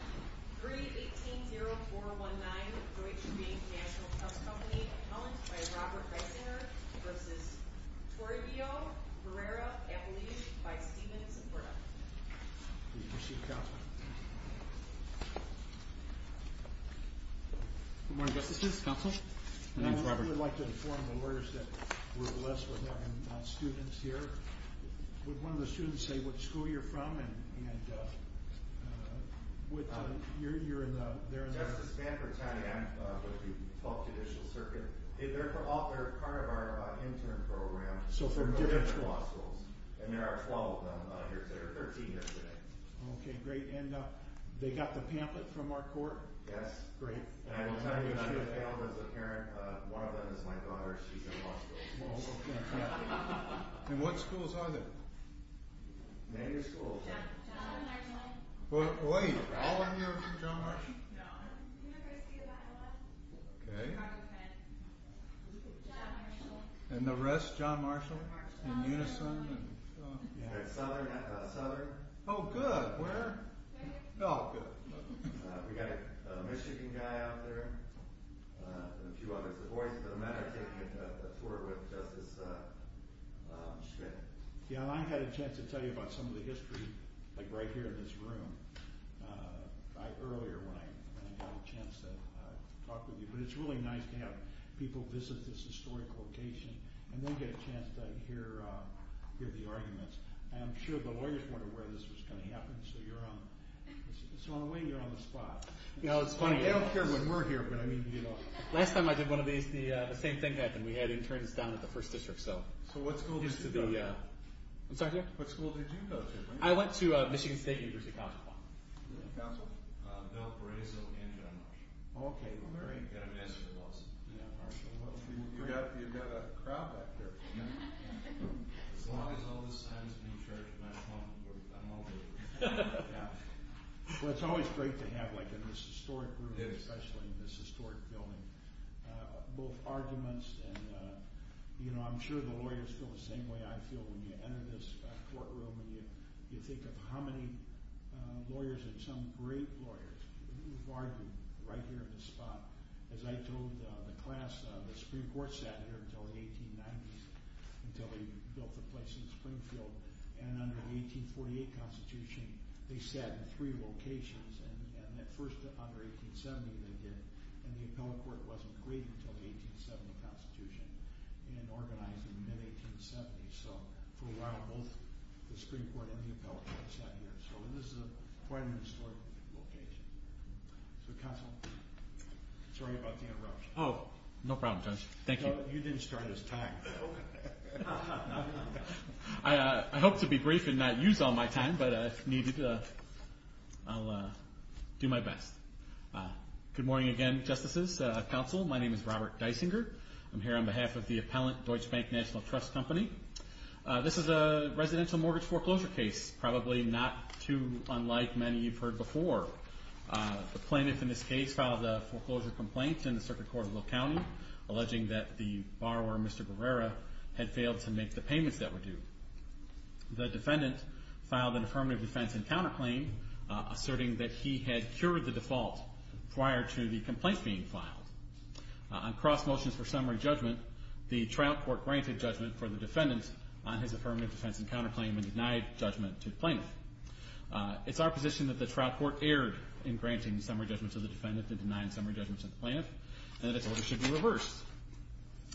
3-18-0-4-1-9 Deutsche Bank National Trust Company Appellant by Robert Reisinger v. Toribio Barrera-Abelish by Stephen Soprano Please proceed, Counsel. Good morning, Justice. Counsel? My name's Robert. I would like to inform the lawyers that we're blessed with our students here. Would one of the students say what school you're from? And, uh, what, uh, you're, you're in the, they're in the... Justice Banford County. I'm, uh, with the 12th Judicial Circuit. They're for, they're part of our, uh, intern program. So, from different schools. And there are 12 of them, uh, here today, or 13 yesterday. Okay, great. And, uh, they got the pamphlet from our court? Yes. Great. I was not even on the panel as a parent. Uh, one of them is my daughter. She's in law school. Oh, okay. And what schools are they? Many schools. John Marshall. Wait, all of you are from John Marshall? No. University of Iowa. Okay. Chicago Penn. John Marshall. And the rest, John Marshall? John Marshall. And Unison, and, uh, yeah. Southern, uh, Southern. Oh, good. Where? Right here. Oh, good. Uh, we got a, uh, Michigan guy out there. Uh, and a few others. Yeah, I had a chance to tell you about some of the history, like right here in this room. Uh, I, earlier when I, when I had a chance to, uh, talk with you. But it's really nice to have people visit this historic location and then get a chance to hear, uh, hear the arguments. And I'm sure the lawyers weren't aware this was going to happen, so you're on, so in a way you're on the spot. You know, it's funny, they don't care when we're here, but I mean, you know. Last time I did one of these, the, uh, the same thing happened. We had interns down at the First District, so. So what school did you go to? Used to be, uh. I'm sorry, yeah? What school did you go to? I went to, uh, Michigan State University College of Law. Yeah. Council? Uh, Bill Perezo and John Marshall. Oh, okay. Very good. And a message of us. Yeah, Marshall. Well, you've got, you've got a crowd back there. Yeah. As long as all this time is being shared with my phone, I'm all good. Yeah. Well, it's always great to have, like, in this historic room. Yeah. Especially in this historic building, uh, both arguments and, uh, you know, I'm sure the lawyers feel the same way I feel when you enter this courtroom and you, you think of how many, uh, lawyers and some great lawyers who've argued right here in this spot. As I told, uh, the class, uh, the Supreme Court sat here until the 1890s, until they had three locations. And, and that first under 1870, they did. And the appellate court wasn't created until the 1870 constitution and organized in mid-1870s. So for a while, both the Supreme Court and the appellate court sat here. So this is a, quite an historic location. So council, sorry about the interruption. Oh, no problem, Judge. Thank you. You didn't start his time, Bill. I, uh, I hope to be brief and not use all my time, but, uh, if needed, uh, I'll, uh, do my best. Uh, good morning again, justices, uh, council. My name is Robert Deisinger. I'm here on behalf of the appellant Deutsche Bank National Trust Company. Uh, this is a residential mortgage foreclosure case, probably not too unlike many you've heard before. Uh, the plaintiff in this case filed a foreclosure complaint in the circuit court of Will County, alleging that the borrower, Mr. Barrera, had failed to make the payments that were due. The defendant filed an affirmative defense and counterclaim, uh, asserting that he had cured the default prior to the complaint being filed. Uh, on cross motions for summary judgment, the trial court granted judgment for the defendant on his affirmative defense and counterclaim and denied judgment to the plaintiff. Uh, it's our position that the trial court erred in granting summary judgment to the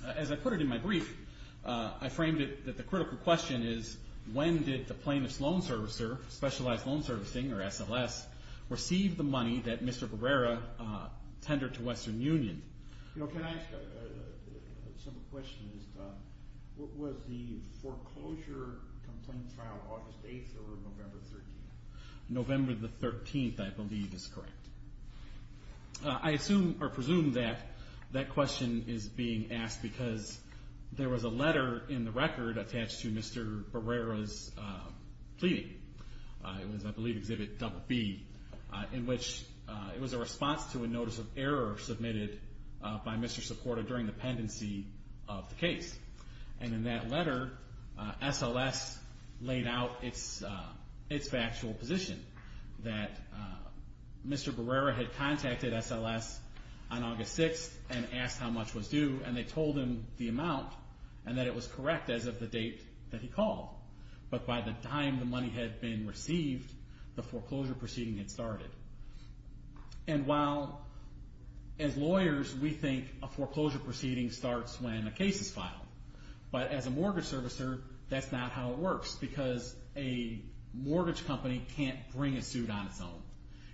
As I put it in my brief, uh, I framed it that the critical question is, when did the plaintiff's loan servicer, specialized loan servicing, or SLS, receive the money that Mr. Barrera, uh, tendered to Western Union? You know, can I ask, uh, a simple question is, uh, what was the foreclosure complaint trial, August 8th or November 13th? November the 13th, I believe, is correct. Uh, I assume or presume that that question is being asked because there was a letter in the record attached to Mr. Barrera's, uh, plea. Uh, it was, I believe, Exhibit BB, uh, in which, uh, it was a response to a notice of error submitted, uh, by Mr. Supporta during the pendency of the case. And in that letter, uh, SLS laid out its, uh, its factual position that, uh, Mr. Barrera had contacted SLS on August 6th and asked how much was due, and they told him the amount, and that it was correct as of the date that he called. But by the time the money had been received, the foreclosure proceeding had started. And while, as lawyers, we think a foreclosure proceeding starts when a case is filed. But as a mortgage servicer, that's not how it works because a mortgage company can't bring a suit on its own.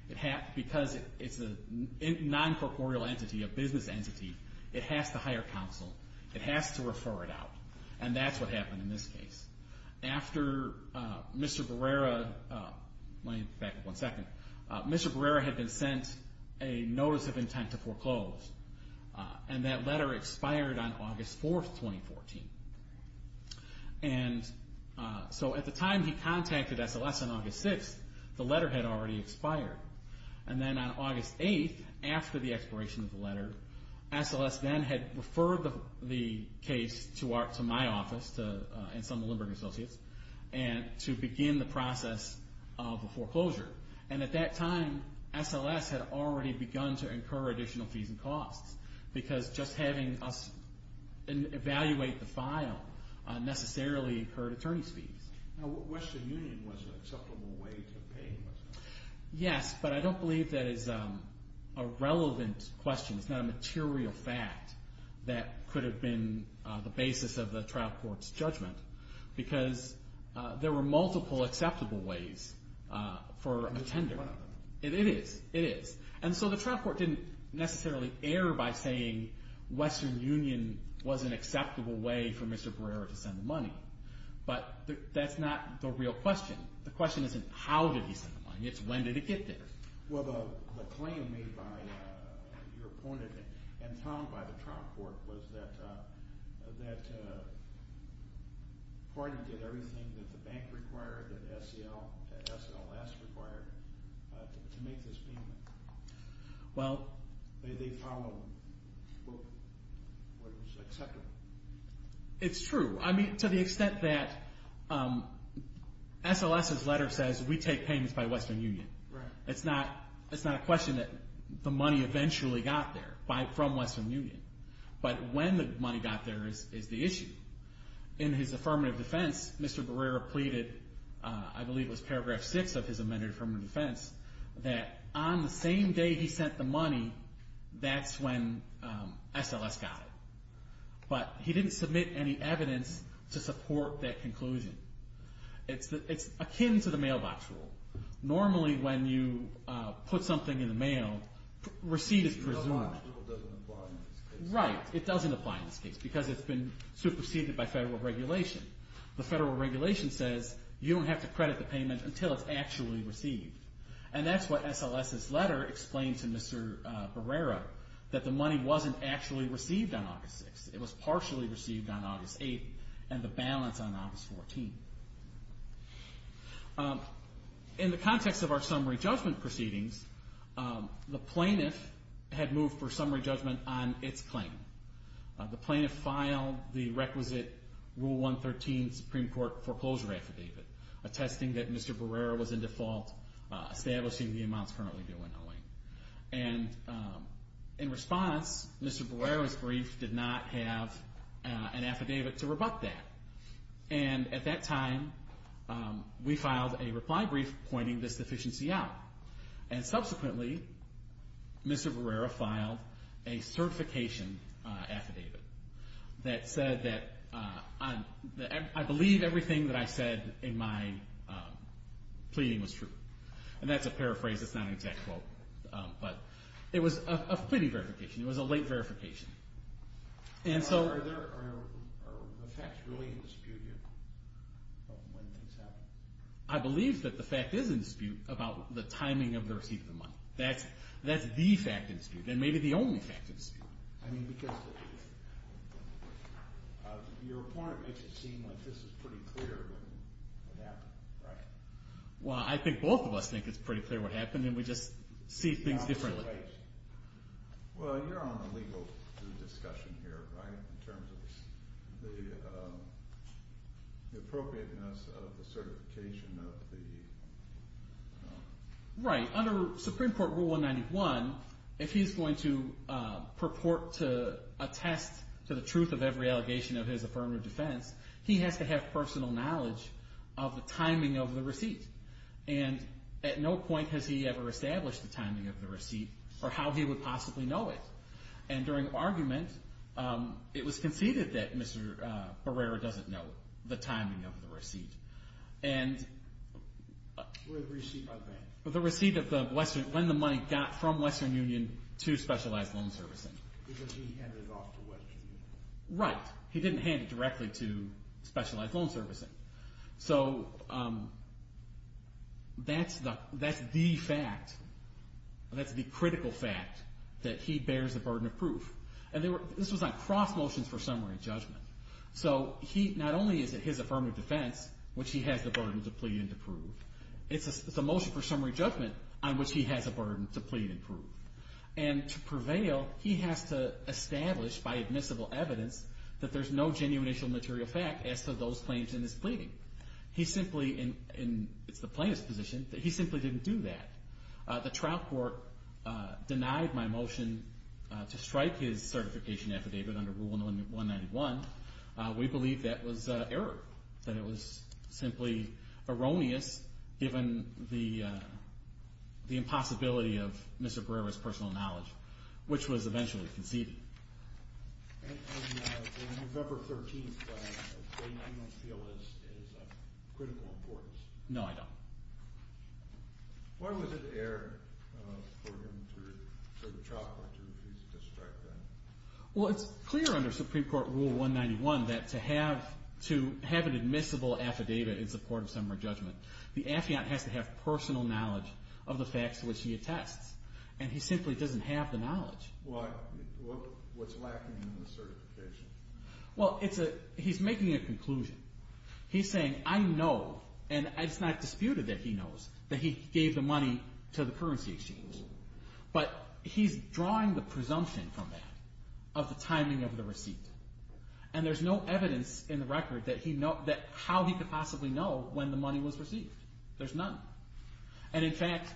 It has, because it's a non-corporeal entity, a business entity, it has to hire counsel. It has to refer it out. And that's what happened in this case. After, uh, Mr. Barrera, uh, let me back up one second. Uh, Mr. Barrera had been sent a notice of intent to foreclose. Uh, and that letter expired on August 4th, 2014. And, uh, so at the time he contacted SLS on August 6th, the letter had already expired. And then on August 8th, after the expiration of the letter, SLS then had referred the, the case to our, to my office, to, uh, Ensemble Lindbergh & Associates, and to begin the process of the foreclosure. And at that time, SLS had already begun to incur additional fees and costs. Because just having us evaluate the file, uh, necessarily incurred attorney's fees. Now, Western Union was an acceptable way to pay, was it not? Yes, but I don't believe that is, um, a relevant question. It's not a material fact that could have been, uh, the basis of the trial court's judgment. Because, uh, there were multiple acceptable ways, uh, for a tender. It was one of them. It is, it is. And so the trial court didn't necessarily err by saying Western Union was an acceptable way for Mr. Barrera to send the money. But that's not the real question. The question isn't how did he send the money, it's when did it get there. Well, the claim made by, uh, your opponent and found by the trial court was that, uh, the party did everything that the bank required, that SEL, SLS required, uh, to make this payment. Well... They, they followed what was acceptable. It's true. I mean, to the extent that, um, SLS's letter says we take payments by Western Union. Right. It's not, it's not a question that the money eventually got there by, from Western Union. But when the money got there is, is the issue. In his affirmative defense, Mr. Barrera pleaded, uh, I believe it was paragraph six of his amended affirmative defense, that on the same day he sent the money, that's when, um, SLS got it. But he didn't submit any evidence to support that conclusion. It's the, it's akin to the mailbox rule. Normally when you, uh, put something in the mail, receipt is presumed. That rule doesn't apply in this case. Right. It doesn't apply in this case because it's been superseded by federal regulation. The federal regulation says you don't have to credit the payment until it's actually received. And that's what SLS's letter explained to Mr. Barrera, that the money wasn't actually received on August 6th. It was partially received on August 8th and the balance on August 14th. Um, in the context of our summary judgment proceedings, um, the plaintiff had moved for summary judgment on its claim. Uh, the plaintiff filed the requisite Rule 113 Supreme Court foreclosure affidavit, attesting that Mr. Barrera was in default, uh, establishing the amounts currently due in Owing. And, um, in response, Mr. Barrera's brief did not have, uh, an affidavit to rebut that. And at that time, um, we filed a reply brief pointing this deficiency out. And subsequently, Mr. Barrera filed a certification affidavit that said that, uh, I believe everything that I said in my, um, pleading was true. And that's a paraphrase. It's not an exact quote. Um, but it was a pleading verification. It was a late verification. And so... I believe that the fact is in dispute about the timing of the receipt of the money. That's, that's the fact in dispute. And maybe the only fact in dispute. Well, I think both of us think it's pretty clear what happened and we just see things differently. This is a discussion here, right? In terms of the, um, the appropriateness of the certification of the, um... Right. Under Supreme Court Rule 191, if he's going to, uh, purport to attest to the truth of every allegation of his affirmative defense, he has to have personal knowledge of the timing of the receipt. And at no point has he ever established the timing of the receipt or how he would possibly know it. And during argument, um, it was conceded that Mr. Barrera doesn't know the timing of the receipt. And... The receipt of the Western, when the money got from Western Union to Specialized Loan Servicing. Right. He didn't hand it directly to Specialized Loan Servicing. So, um, that's the fact. That's the critical fact that he bears the burden of proof. And this was on cross motions for summary judgment. So he, not only is it his affirmative defense, which he has the burden to plead and to prove, it's a motion for summary judgment on which he has a burden to plead and prove. And to prevail, he has to establish by admissible evidence that there's no genuine initial material fact as to those claims in his pleading. He simply, and it's the plaintiff's position, that he simply didn't do that. The trial court denied my motion to strike his certification affidavit under Rule No. 191. We believe that was error. That it was simply erroneous, given the impossibility of Mr. Barrera's personal knowledge, which was eventually conceded. And on the November 13th claim, you don't feel it's of critical importance? No, I don't. Why was it error for him to chop or to refuse to strike that? Well, it's clear under Supreme Court Rule 191 that to have an admissible affidavit in support of summary judgment, the affiant has to have personal knowledge of the facts to which he attests. And he simply doesn't have the knowledge. What's lacking in the certification? Well, he's making a conclusion. He's saying, I know, and it's not disputed that he knows, that he gave the money to the currency exchange. But he's drawing the presumption from that of the timing of the receipt. And there's no evidence in the record that how he could possibly know when the money was received. There's none. And, in fact,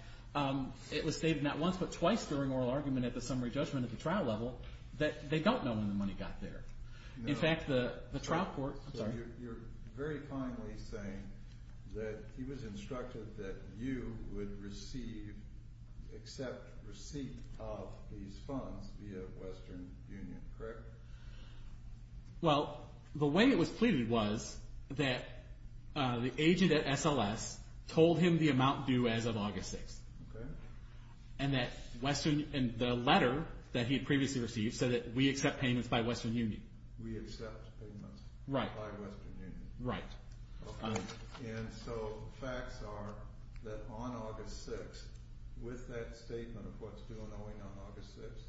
it was stated not once but twice during oral argument at the summary judgment at the trial level that they don't know when the money got there. In fact, the trial court- You're very kindly saying that he was instructed that you would receive, accept receipt of these funds via Western Union, correct? Well, the way it was pleaded was that the agent at SLS told him the amount due as of August 6th. Okay. And the letter that he had previously received said that we accept payments by Western Union. We accept payments- Right. By Western Union. Right. And so facts are that on August 6th, with that statement of what's due and owing on August 6th-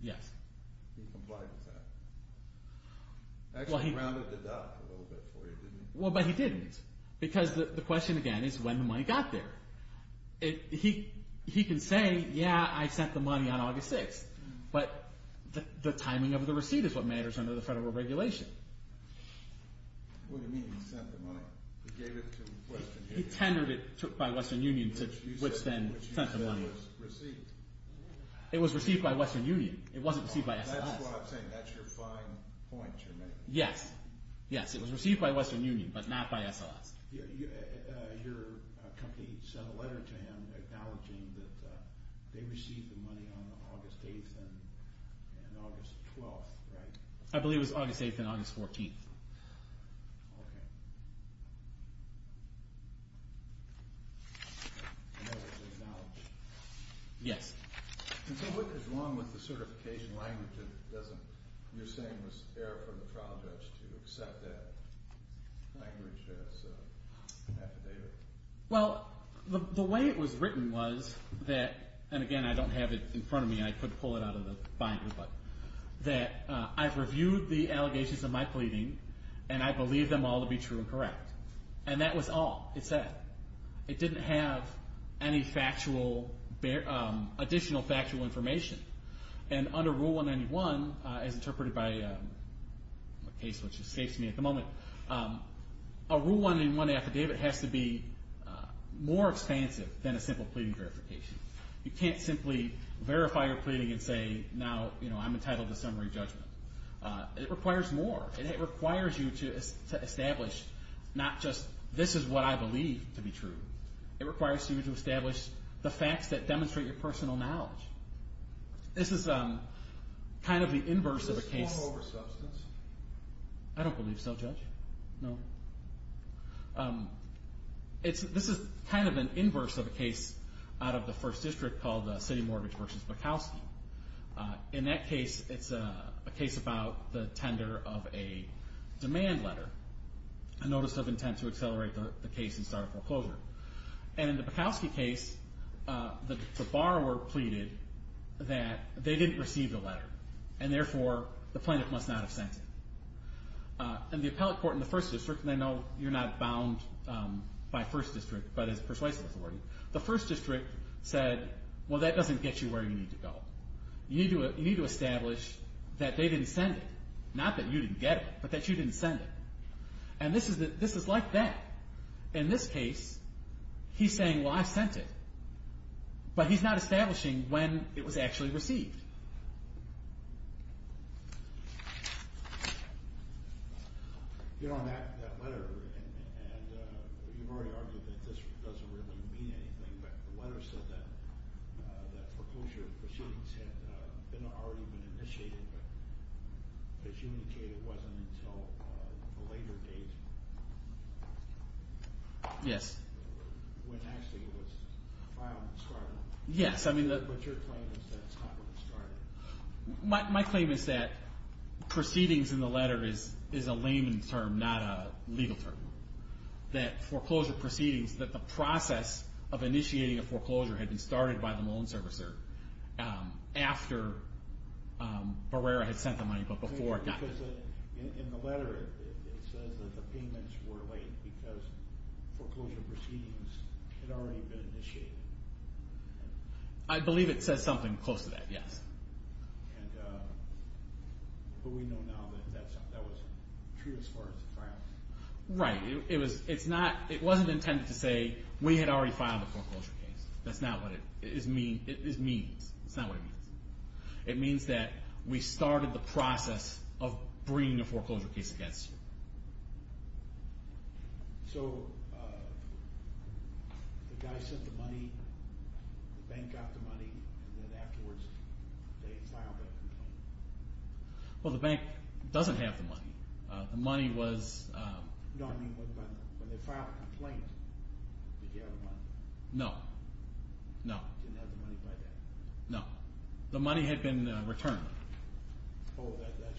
Yes. He complied with that. Actually rounded the dot a little bit for you, didn't he? Well, but he didn't. Because the question, again, is when the money got there. He can say, yeah, I sent the money on August 6th. But the timing of the receipt is what matters under the federal regulation. What do you mean he sent the money? He gave it to Western Union. He tendered it by Western Union, which then sent the money. You said it was received. It was received by Western Union. It wasn't received by SLS. That's what I'm saying. That's your fine point you're making. Yes. Yes, it was received by Western Union, but not by SLS. Your company sent a letter to him acknowledging that they received the money on August 8th and August 12th, right? I believe it was August 8th and August 14th. Okay. And that was acknowledged? Yes. So what is wrong with the certification language that you're saying was error from the trial judge to accept that language as affidavit? Well, the way it was written was that, and again, I don't have it in front of me. I could pull it out of the binder. But that I've reviewed the allegations of my pleading, and I believe them all to be true and correct. And that was all. It said. It didn't have any additional factual information. And under Rule 191, as interpreted by a case which escapes me at the moment, a Rule 191 affidavit has to be more expansive than a simple pleading verification. You can't simply verify your pleading and say, now I'm entitled to summary judgment. It requires more. And it requires you to establish not just this is what I believe to be true. It requires you to establish the facts that demonstrate your personal knowledge. This is kind of the inverse of a case. Is this fall over substance? I don't believe so, Judge. No. This is kind of an inverse of a case out of the First District called the City Mortgage v. Mikowski. In that case, it's a case about the tender of a demand letter. A notice of intent to accelerate the case and start a foreclosure. And in the Mikowski case, the borrower pleaded that they didn't receive the letter. And therefore, the plaintiff must not have sent it. And the appellate court in the First District, and I know you're not bound by First District, but it's persuasive authority. The First District said, well, that doesn't get you where you need to go. You need to establish that they didn't send it. Not that you didn't get it, but that you didn't send it. And this is like that. In this case, he's saying, well, I sent it. But he's not establishing when it was actually received. You're on that letter, and you've already argued that this doesn't really mean anything. But the letter said that foreclosure proceedings had already been initiated. But as you indicated, it wasn't until a later date. Yes. When actually it was filed in Scarborough. Yes. But your claim is that it's not when it started. My claim is that proceedings in the letter is a layman term, not a legal term. That foreclosure proceedings, that the process of initiating a foreclosure, had been started by the loan servicer after Barrera had sent the money, but before. In the letter, it says that the payments were late because foreclosure proceedings had already been initiated. I believe it says something close to that, yes. But we know now that that was true as far as the filing. Right. It wasn't intended to say we had already filed the foreclosure case. That's not what it means. It's not what it means. It means that we started the process of bringing a foreclosure case against you. So the guy sent the money, the bank got the money, and then afterwards they filed that complaint. Well, the bank doesn't have the money. The money was... No, I mean when they filed the complaint, did you have the money? No. No. You didn't have the money by then? No. The money had been returned. Oh, that's right.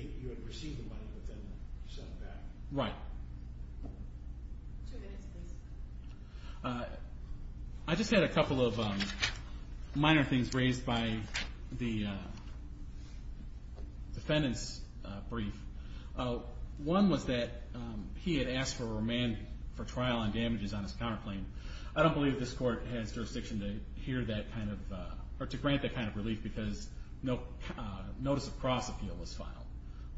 You had received the money, but then sent it back. Right. Two minutes, please. I just had a couple of minor things raised by the defendant's brief. One was that he had asked for remand for trial on damages on his counterclaim. I don't believe this court has jurisdiction to grant that kind of relief because no notice of cross-appeal was filed.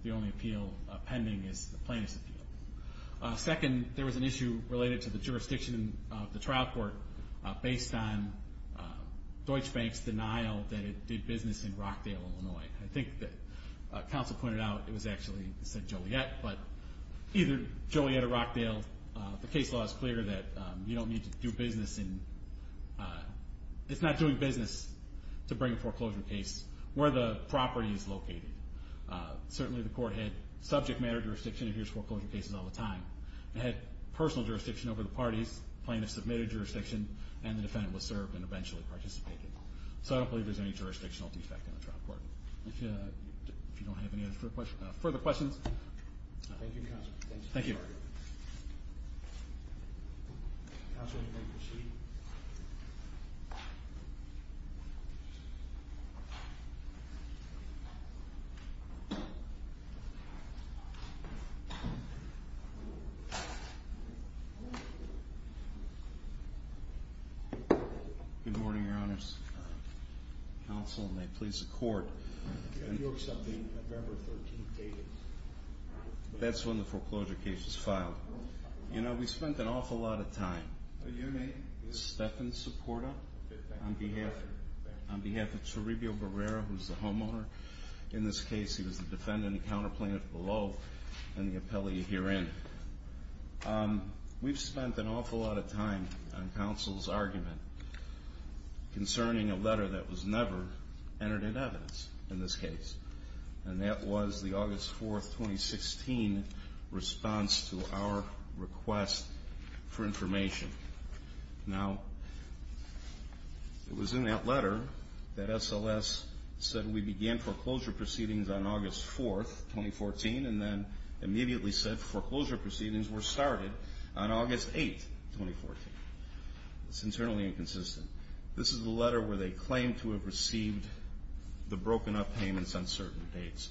The only appeal pending is the plaintiff's appeal. Second, there was an issue related to the jurisdiction of the trial court based on Deutsche Bank's denial that it did business in Rockdale, Illinois. I think that counsel pointed out it was actually said Joliet, but either Joliet or Rockdale, the case law is clear that you don't need to do business in it's not doing business to bring a foreclosure case where the property is located. Certainly the court had subject matter jurisdiction. It hears foreclosure cases all the time. It had personal jurisdiction over the parties, plaintiff submitted jurisdiction, and the defendant was served and eventually participated. So I don't believe there's any jurisdictional defect in the trial court. If you don't have any further questions. Thank you, counsel. Thank you. Counsel, you may proceed. Good morning, Your Honors. Counsel, and may it please the court. Do you accept the November 13th date? That's when the foreclosure case is filed. You know, we spent an awful lot of time. Your name? Stephan Supporta, on behalf of Chiribio Barrera, who's the homeowner. In this case, he was the defendant and counter plaintiff below and the appellee herein. We've spent an awful lot of time on counsel's argument concerning a letter that was never entered in evidence in this case. And that was the August 4th, 2016, response to our request for information. Now, it was in that letter that SLS said we began foreclosure proceedings on August 4th, 2014, and then immediately said foreclosure proceedings were started on August 8th, 2014. It's internally inconsistent. This is the letter where they claim to have received the broken-up payments on certain dates.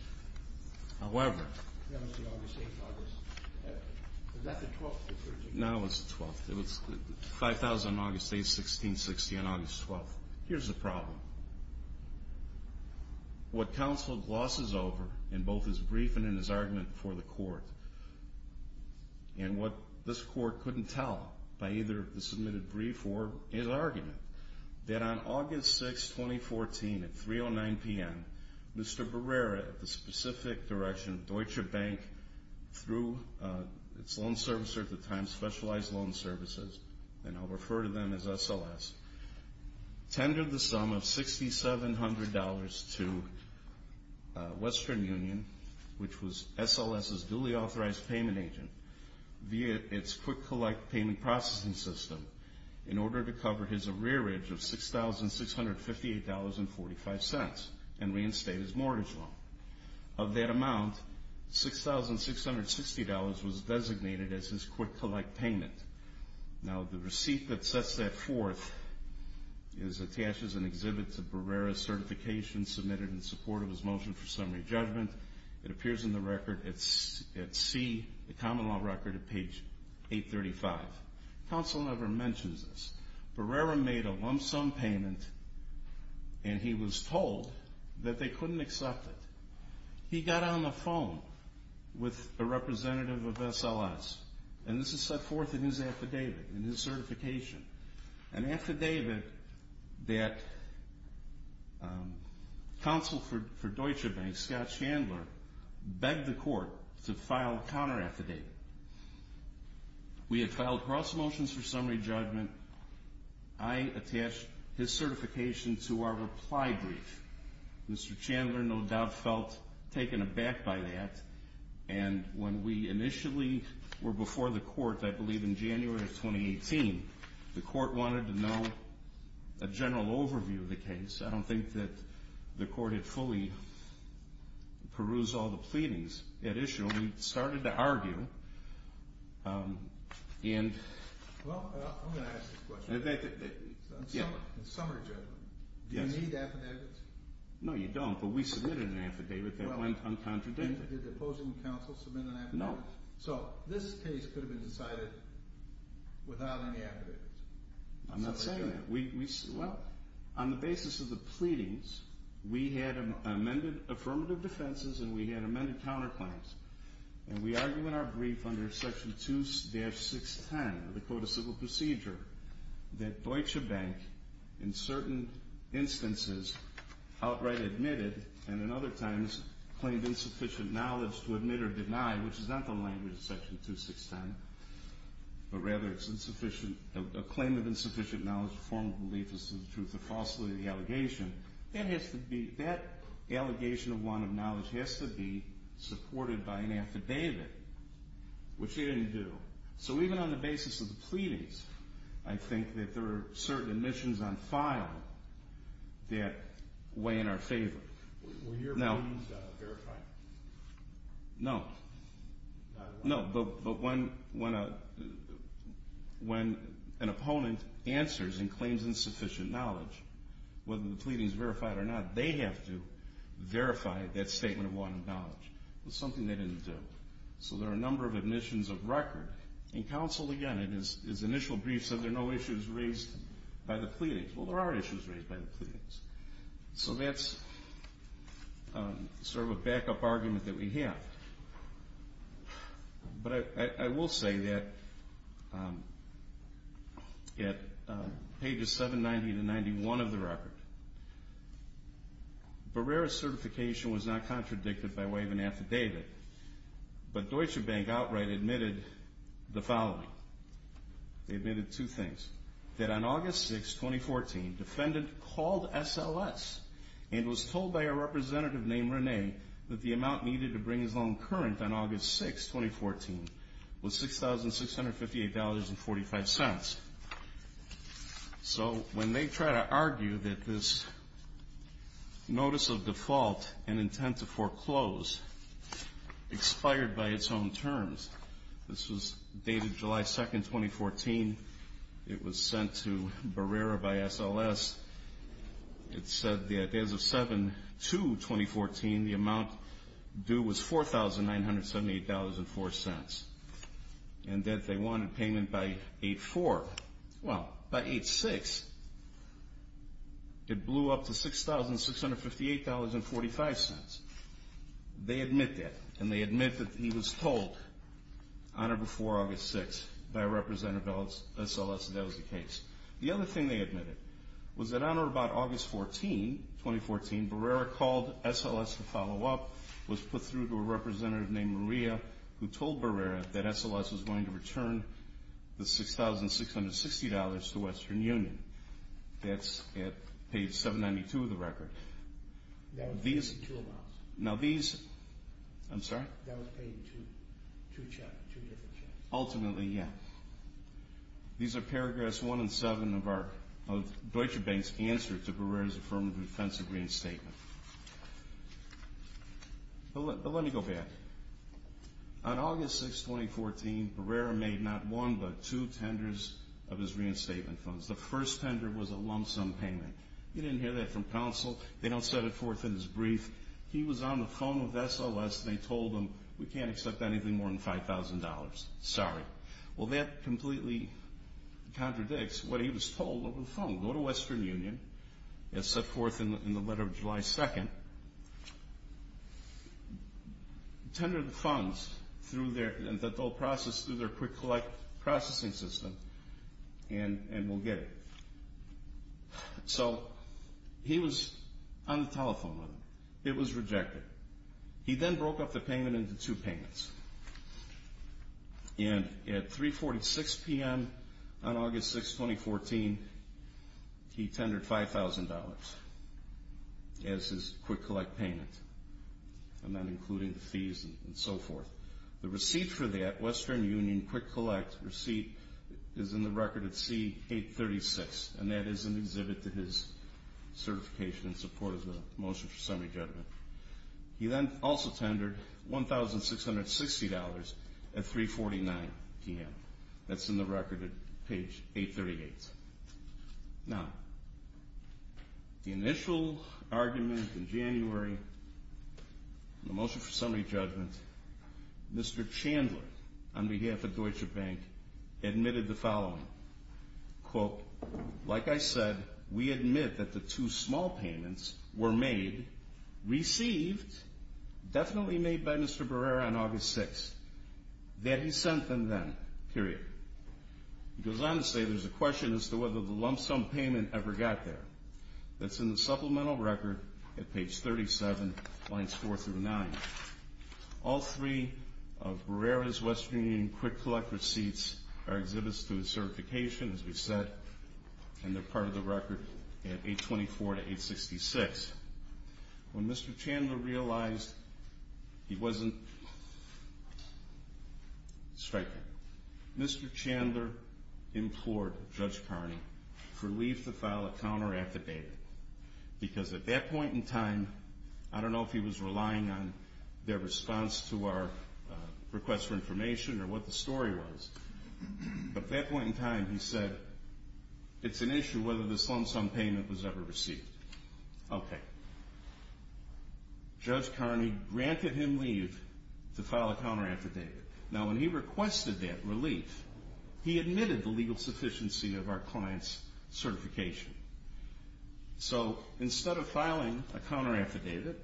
However. That was the August 8th, August. Was that the 12th or 13th? No, it was the 12th. It was 5,000 on August 8th, 1660 on August 12th. Here's the problem. And what this court couldn't tell by either the submitted brief or his argument, that on August 6th, 2014, at 3.09 p.m., Mr. Barrera, at the specific direction of Deutsche Bank through its loan servicer at the time, Specialized Loan Services, and I'll refer to them as SLS, tendered the sum of $6,700 to Western Union, which was SLS's duly authorized payment agent, via its quick-collect payment processing system in order to cover his arrearage of $6,658.45 and reinstate his mortgage loan. Of that amount, $6,660 was designated as his quick-collect payment. Now, the receipt that sets that forth is attached as an exhibit to Barrera's certification submitted in support of his motion for summary judgment. It appears in the record at C, the common law record, at page 835. Counsel never mentions this. Barrera made a lump sum payment, and he was told that they couldn't accept it. He got on the phone with a representative of SLS, and this is set forth in his affidavit, in his certification. An affidavit that Counsel for Deutsche Bank, Scott Chandler, begged the court to file a counter-affidavit. We had filed cross motions for summary judgment. I attached his certification to our reply brief. Mr. Chandler, no doubt, felt taken aback by that. And when we initially were before the court, I believe in January of 2018, the court wanted to know a general overview of the case. I don't think that the court had fully perused all the pleadings. At issue, we started to argue. Well, I'm going to ask this question. In summary judgment, do you need affidavits? No, you don't, but we submitted an affidavit that went uncontradicted. Did the opposing counsel submit an affidavit? No. So this case could have been decided without any affidavits? I'm not saying that. Well, on the basis of the pleadings, we had amended affirmative defenses and we had amended counterclaims. And we argue in our brief under Section 2-610 of the Code of Civil Procedure that Deutsche Bank in certain instances outright admitted and in other times claimed insufficient knowledge to admit or deny, which is not the language of Section 2-610, but rather it's a claim of insufficient knowledge to form a belief as to the truth or falsity of the allegation. That allegation of want of knowledge has to be supported by an affidavit, which it didn't do. So even on the basis of the pleadings, I think that there are certain admissions on file that weigh in our favor. Were your pleadings verified? No. No, but when an opponent answers and claims insufficient knowledge, whether the pleading is verified or not, they have to verify that statement of want of knowledge. It was something they didn't do. So there are a number of admissions of record. And counsel, again, in his initial brief, said there are no issues raised by the pleadings. Well, there are issues raised by the pleadings. So that's sort of a backup argument that we have. But I will say that at pages 790-91 of the record, Barrera's certification was not contradicted by way of an affidavit, but Deutsche Bank outright admitted the following. They admitted two things, that on August 6, 2014, defendant called SLS and was told by a representative named Renee that the amount needed to bring his loan current on August 6, 2014, was $6,658.45. So when they try to argue that this notice of default and intent to foreclose expired by its own terms, this was dated July 2, 2014. It was sent to Barrera by SLS. It said that as of 7-2-2014, the amount due was $4,978.04. And that they wanted payment by 8-4. Well, by 8-6, it blew up to $6,658.45. They admit that. And they admit that he was told on or before August 6 by a representative of SLS that that was the case. The other thing they admitted was that on or about August 14, 2014, Barrera called SLS to follow up, was put through to a representative named Maria, who told Barrera that SLS was going to return the $6,660.00 to Western Union. That's at page 792 of the record. That was paid in two amounts. Now these – I'm sorry? That was paid in two checks, two different checks. Ultimately, yeah. These are paragraphs 1 and 7 of Deutsche Bank's answer to Barrera's affirmative defense agreement statement. But let me go back. On August 6, 2014, Barrera made not one but two tenders of his reinstatement funds. The first tender was a lump sum payment. You didn't hear that from counsel. They don't set it forth in his brief. He was on the phone with SLS, and they told him, we can't accept anything more than $5,000. Sorry. Well, that completely contradicts what he was told over the phone. We'll go to Western Union. It's set forth in the letter of July 2nd. Tender the funds through their – that they'll process through their quick-collect processing system, and we'll get it. So he was on the telephone with them. It was rejected. He then broke up the payment into two payments. And at 3.46 p.m. on August 6, 2014, he tendered $5,000 as his quick-collect payment, and then including the fees and so forth. The receipt for that, Western Union quick-collect receipt, is in the record at C836, and that is an exhibit to his certification in support of the motion for summary judgment. He then also tendered $1,660 at 3.49 p.m. That's in the record at page 838. Now, the initial argument in January, the motion for summary judgment, Mr. Chandler, on behalf of Deutsche Bank, admitted the following. Quote, like I said, we admit that the two small payments were made, received, definitely made by Mr. Barrera on August 6th, that he sent them then, period. He goes on to say there's a question as to whether the lump sum payment ever got there. That's in the supplemental record at page 37, lines 4 through 9. All three of Barrera's Western Union quick-collect receipts are exhibits to his certification, as we said, and they're part of the record at 824 to 866. When Mr. Chandler realized he wasn't striking, Mr. Chandler implored Judge Carney for leave to file a counter-affidavit, because at that point in time, I don't know if he was relying on their response to our request for information or what the story was, but at that point in time, he said it's an issue whether this lump sum payment was ever received. Okay. Judge Carney granted him leave to file a counter-affidavit. Now, when he requested that relief, he admitted the legal sufficiency of our client's certification. So instead of filing a counter-affidavit,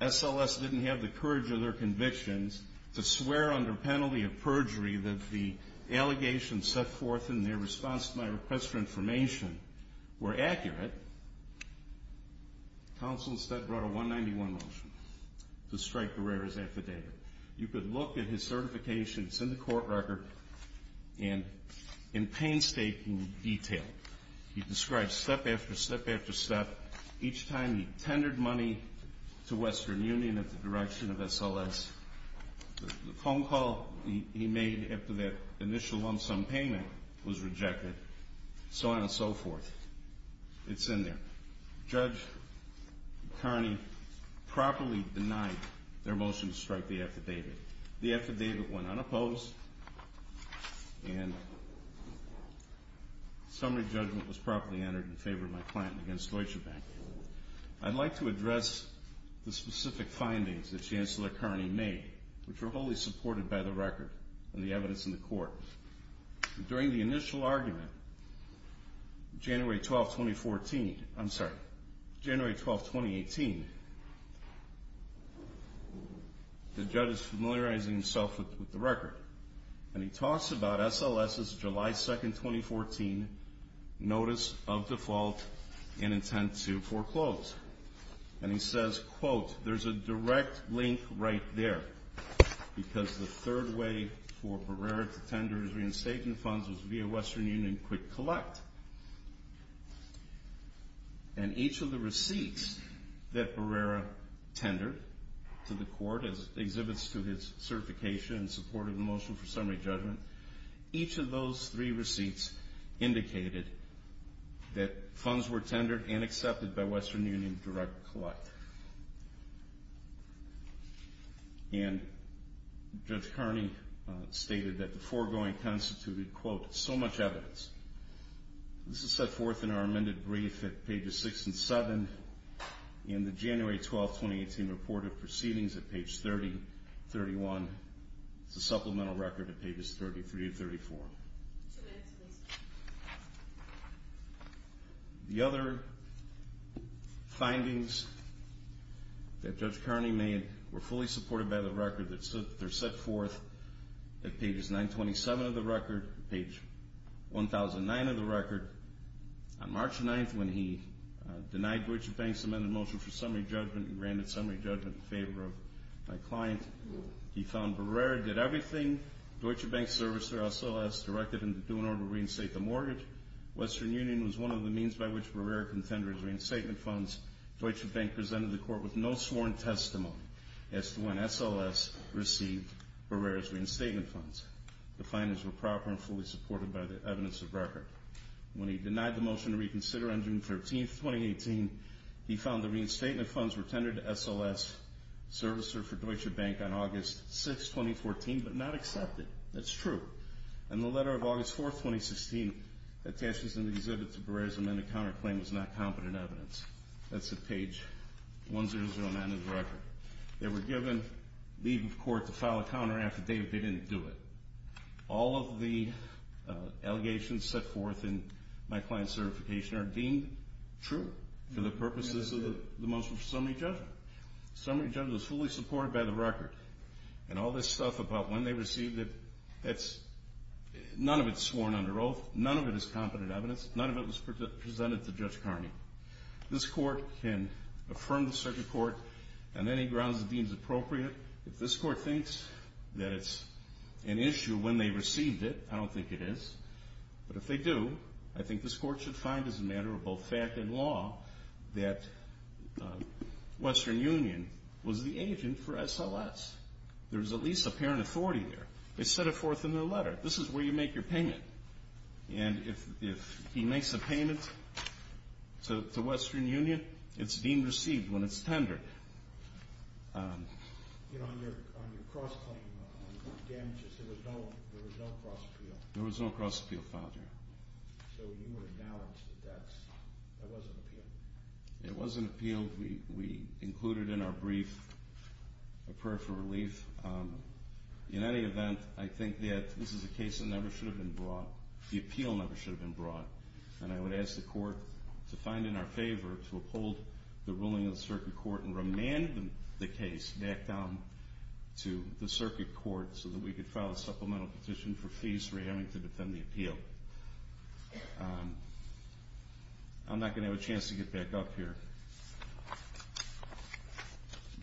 SLS didn't have the courage of their convictions to swear under penalty of perjury that the allegations set forth in their response to my request for information were accurate. Counsel instead brought a 191 motion to strike Barrera's affidavit. You could look at his certification. It's in the court record and in painstaking detail. He described step after step after step. Each time he tendered money to Western Union at the direction of SLS, the phone call he made after that initial lump sum payment was rejected, so on and so forth. It's in there. Judge Carney properly denied their motion to strike the affidavit. The affidavit went unopposed, and summary judgment was properly entered in favor of my client against Deutsche Bank. I'd like to address the specific findings that Chancellor Carney made, which were wholly supported by the record and the evidence in the court. During the initial argument, January 12, 2014, I'm sorry, January 12, 2018, the judge is familiarizing himself with the record, and he talks about SLS's July 2, 2014 notice of default in intent to foreclose. And he says, quote, there's a direct link right there, because the third way for Barrera to tender his reinstatement funds was via Western Union Quick Collect. And each of the receipts that Barrera tendered to the court as exhibits to his certification in support of the motion for summary judgment, each of those three receipts indicated that funds were tendered and accepted by Western Union Direct Collect. And Judge Carney stated that the foregoing constituted, quote, so much evidence. This is set forth in our amended brief at pages 6 and 7, in the January 12, 2018 report of proceedings at page 30, 31. It's a supplemental record at pages 33 and 34. The other findings that Judge Carney made were fully supported by the record. They're set forth at pages 927 of the record, page 1009 of the record. On March 9th, when he denied Georgetown Bank's amended motion for summary judgment and granted summary judgment in favor of my client, he found Barrera did everything. Deutsche Bank serviced their SLS, directed him to do in order to reinstate the mortgage. Western Union was one of the means by which Barrera contended his reinstatement funds. Deutsche Bank presented the court with no sworn testimony as to when SLS received Barrera's reinstatement funds. The findings were proper and fully supported by the evidence of record. When he denied the motion to reconsider on June 13th, 2018, he found the reinstatement funds were tendered to SLS servicer for Deutsche Bank on August 6th, 2014, but not accepted. That's true. In the letter of August 4th, 2016, attachments in the exhibit to Barrera's amended counterclaim was not competent evidence. That's at page 1009 of the record. They were given leave of court to file a counter after they didn't do it. All of the allegations set forth in my client's certification are deemed true for the purposes of the motion for summary judgment. Summary judgment was fully supported by the record. And all this stuff about when they received it, none of it's sworn under oath. None of it is competent evidence. None of it was presented to Judge Carney. This court can affirm the circuit court on any grounds it deems appropriate. If this court thinks that it's an issue when they received it, I don't think it is. But if they do, I think this court should find as a matter of both fact and law that Western Union was the agent for SLS. There's at least apparent authority there. They set it forth in their letter. This is where you make your payment. And if he makes a payment to Western Union, it's deemed received when it's tendered. You know, on your cross-claim damages, there was no cross-appeal. There was no cross-appeal filed here. So you would acknowledge that that wasn't appealed? It wasn't appealed. We included in our brief a prayer for relief. In any event, I think that this is a case that never should have been brought. The appeal never should have been brought. And I would ask the court to find in our favor to uphold the ruling of the circuit court and remand the case back down to the circuit court so that we could file a supplemental petition for fees for having to defend the appeal. I'm not going to have a chance to get back up here.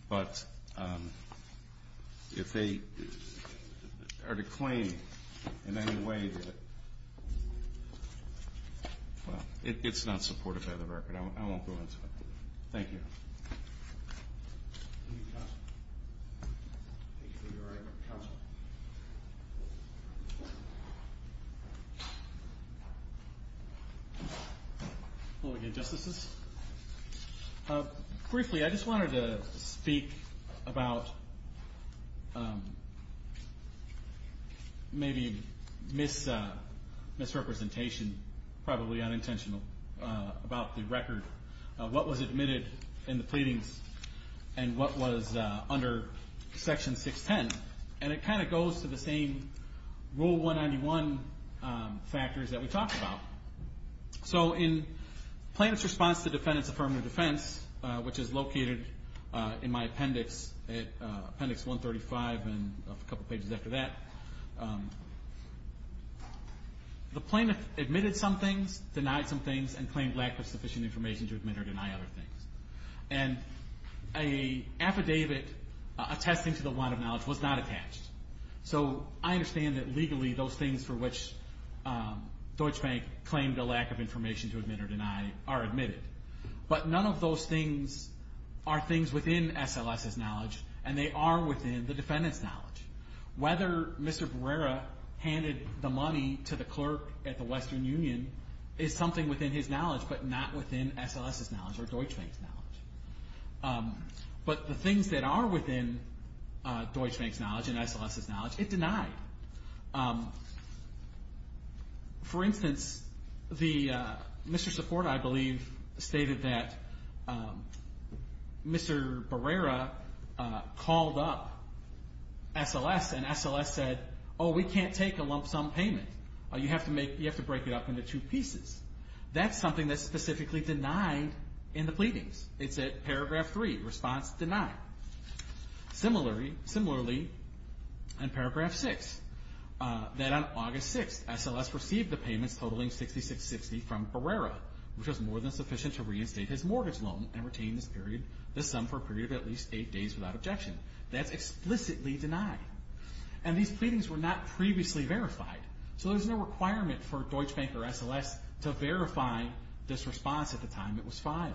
But if they are to claim in any way that, well, it's not supported by the record. I won't go into it. Thank you. Thank you, counsel. Thank you for your argument, counsel. Hello again, Justices. Briefly, I just wanted to speak about maybe misrepresentation, probably unintentional, about the record. What was admitted in the pleadings and what was under Section 610. And it kind of goes to the same Rule 191 factors that we talked about. So in plaintiff's response to defendant's affirmative defense, which is located in my appendix, appendix 135 and a couple pages after that, the plaintiff admitted some things, and affidavit attesting to the want of knowledge was not attached. So I understand that legally those things for which Deutsche Bank claimed a lack of information to admit or deny are admitted. But none of those things are things within SLS's knowledge, and they are within the defendant's knowledge. Whether Mr. Barrera handed the money to the clerk at the Western Union is something within his knowledge, but not within SLS's knowledge or Deutsche Bank's knowledge. But the things that are within Deutsche Bank's knowledge and SLS's knowledge, it denied. For instance, Mr. Support, I believe, stated that Mr. Barrera called up SLS and SLS said, oh, we can't take a lump sum payment. You have to break it up into two pieces. That's something that's specifically denied in the pleadings. It's at paragraph 3, response denied. Similarly, in paragraph 6, that on August 6, SLS received the payments totaling $66.60 from Barrera, which was more than sufficient to reinstate his mortgage loan and retain this sum for a period of at least 8 days without objection. That's explicitly denied. And these pleadings were not previously verified. So there's no requirement for Deutsche Bank or SLS to verify this response at the time it was filed.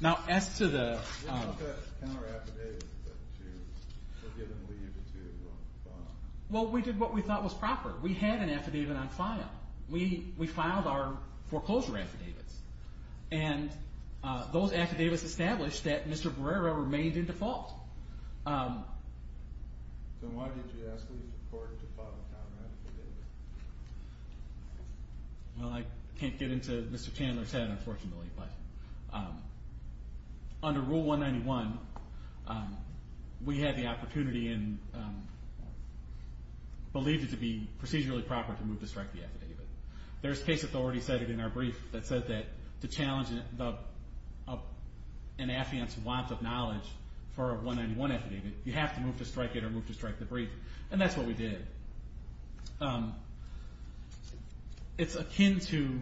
Now, as to the – Well, we did what we thought was proper. We had an affidavit on file. We filed our foreclosure affidavits. And those affidavits established that Mr. Barrera remained in default. So why did you ask the court to file a contract? Well, I can't get into Mr. Chandler's head, unfortunately. But under Rule 191, we had the opportunity and believed it to be procedurally proper to move to strike the affidavit. There's case authority cited in our brief that said that to challenge an affiant's want of knowledge for a 191 affidavit, you have to move to strike it or move to strike the brief. And that's what we did. It's akin to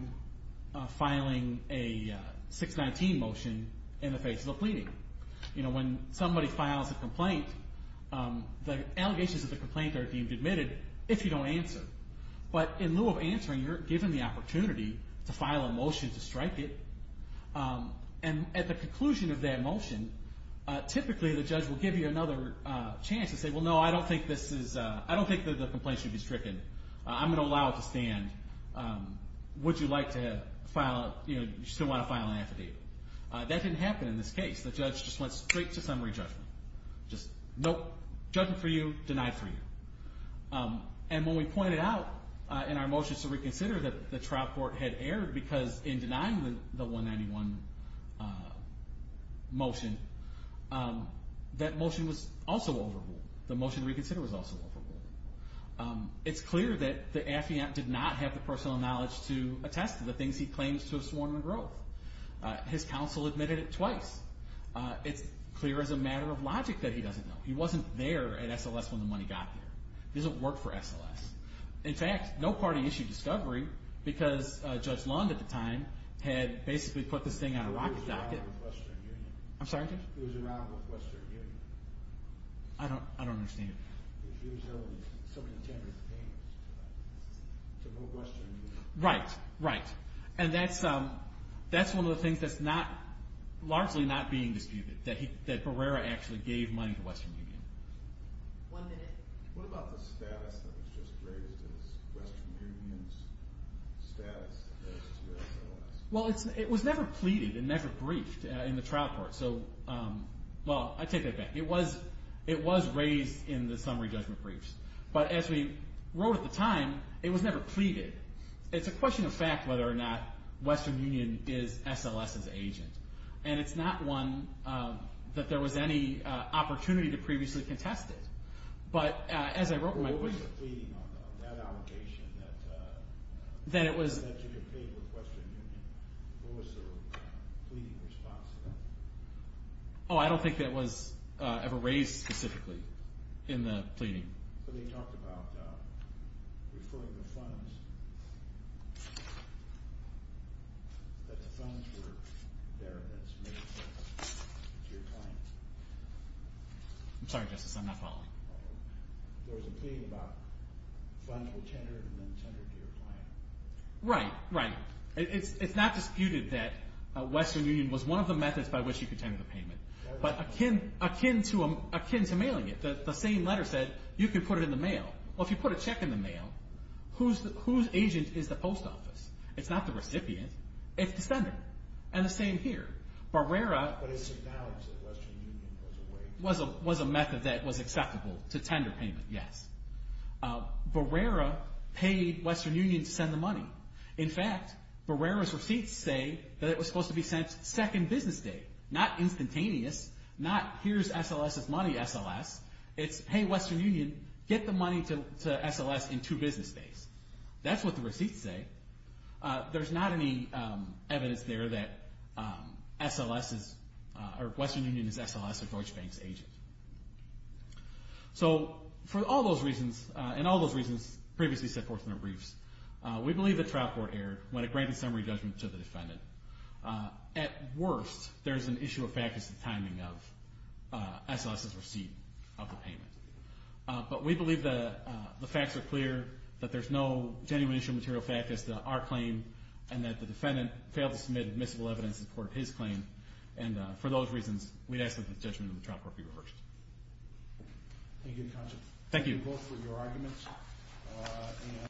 filing a 619 motion in the face of a pleading. You know, when somebody files a complaint, the allegations of the complaint are deemed admitted if you don't answer. But in lieu of answering, you're given the opportunity to file a motion to strike it. And at the conclusion of that motion, typically the judge will give you another chance to say, well, no, I don't think this is – I don't think that the complaint should be stricken. I'm going to allow it to stand. Would you like to file – you know, do you still want to file an affidavit? That didn't happen in this case. The judge just went straight to summary judgment. Just, nope, judgment for you, denied for you. And when we pointed out in our motion to reconsider that the trial court had erred because in denying the 191 motion, that motion was also overruled. The motion to reconsider was also overruled. It's clear that the affiant did not have the personal knowledge to attest to the things he claims to have sworn on in growth. His counsel admitted it twice. It's clear as a matter of logic that he doesn't know. He wasn't there at SLS when the money got there. He doesn't work for SLS. In fact, no party issued discovery because Judge Lund at the time had basically put this thing on a rocket docket. He was around with Western Union. I'm sorry, Judge? He was around with Western Union. I don't understand. He was able to – somebody attempted to pay him to go to Western Union. Right, right. And that's one of the things that's not – largely not being disputed, that Barrera actually gave money to Western Union. One minute. What about the status that was just raised as Western Union's status as SLS? Well, it was never pleaded and never briefed in the trial court. So, well, I take that back. It was raised in the summary judgment briefs. But as we wrote at the time, it was never pleaded. It's a question of fact whether or not Western Union is SLS's agent. And it's not one that there was any opportunity to previously contest it. But as I wrote in my brief – What was the pleading on that allegation that you could pay with Western Union? What was the pleading response to that? Oh, I don't think that was ever raised specifically in the pleading. So they talked about referring the funds, that the funds were there and then submitted to your client. I'm sorry, Justice, I'm not following. There was a pleading about funds were tendered and then tendered to your client. Right, right. It's not disputed that Western Union was one of the methods by which you could tender the payment. But akin to mailing it, the same letter said you could put it in the mail. Well, if you put a check in the mail, whose agent is the post office? It's not the recipient. It's the sender. And the same here. Barrera – But it's acknowledged that Western Union was a way – Was a method that was acceptable to tender payment, yes. Barrera paid Western Union to send the money. In fact, Barrera's receipts say that it was supposed to be sent second business day. Not instantaneous. Not here's SLS's money, SLS. It's, hey, Western Union, get the money to SLS in two business days. That's what the receipts say. There's not any evidence there that SLS is – or Western Union is SLS or Deutsche Bank's agent. So for all those reasons, and all those reasons previously said fortunate briefs, we believe the trial court erred when it granted summary judgment to the defendant. At worst, there's an issue of fact as to the timing of SLS's receipt of the payment. But we believe the facts are clear, that there's no genuine issue of material fact as to our claim, and that the defendant failed to submit admissible evidence in support of his claim. And for those reasons, we'd ask that the judgment of the trial court be reversed. Thank you, counsel. Thank you. Thank you both for your arguments.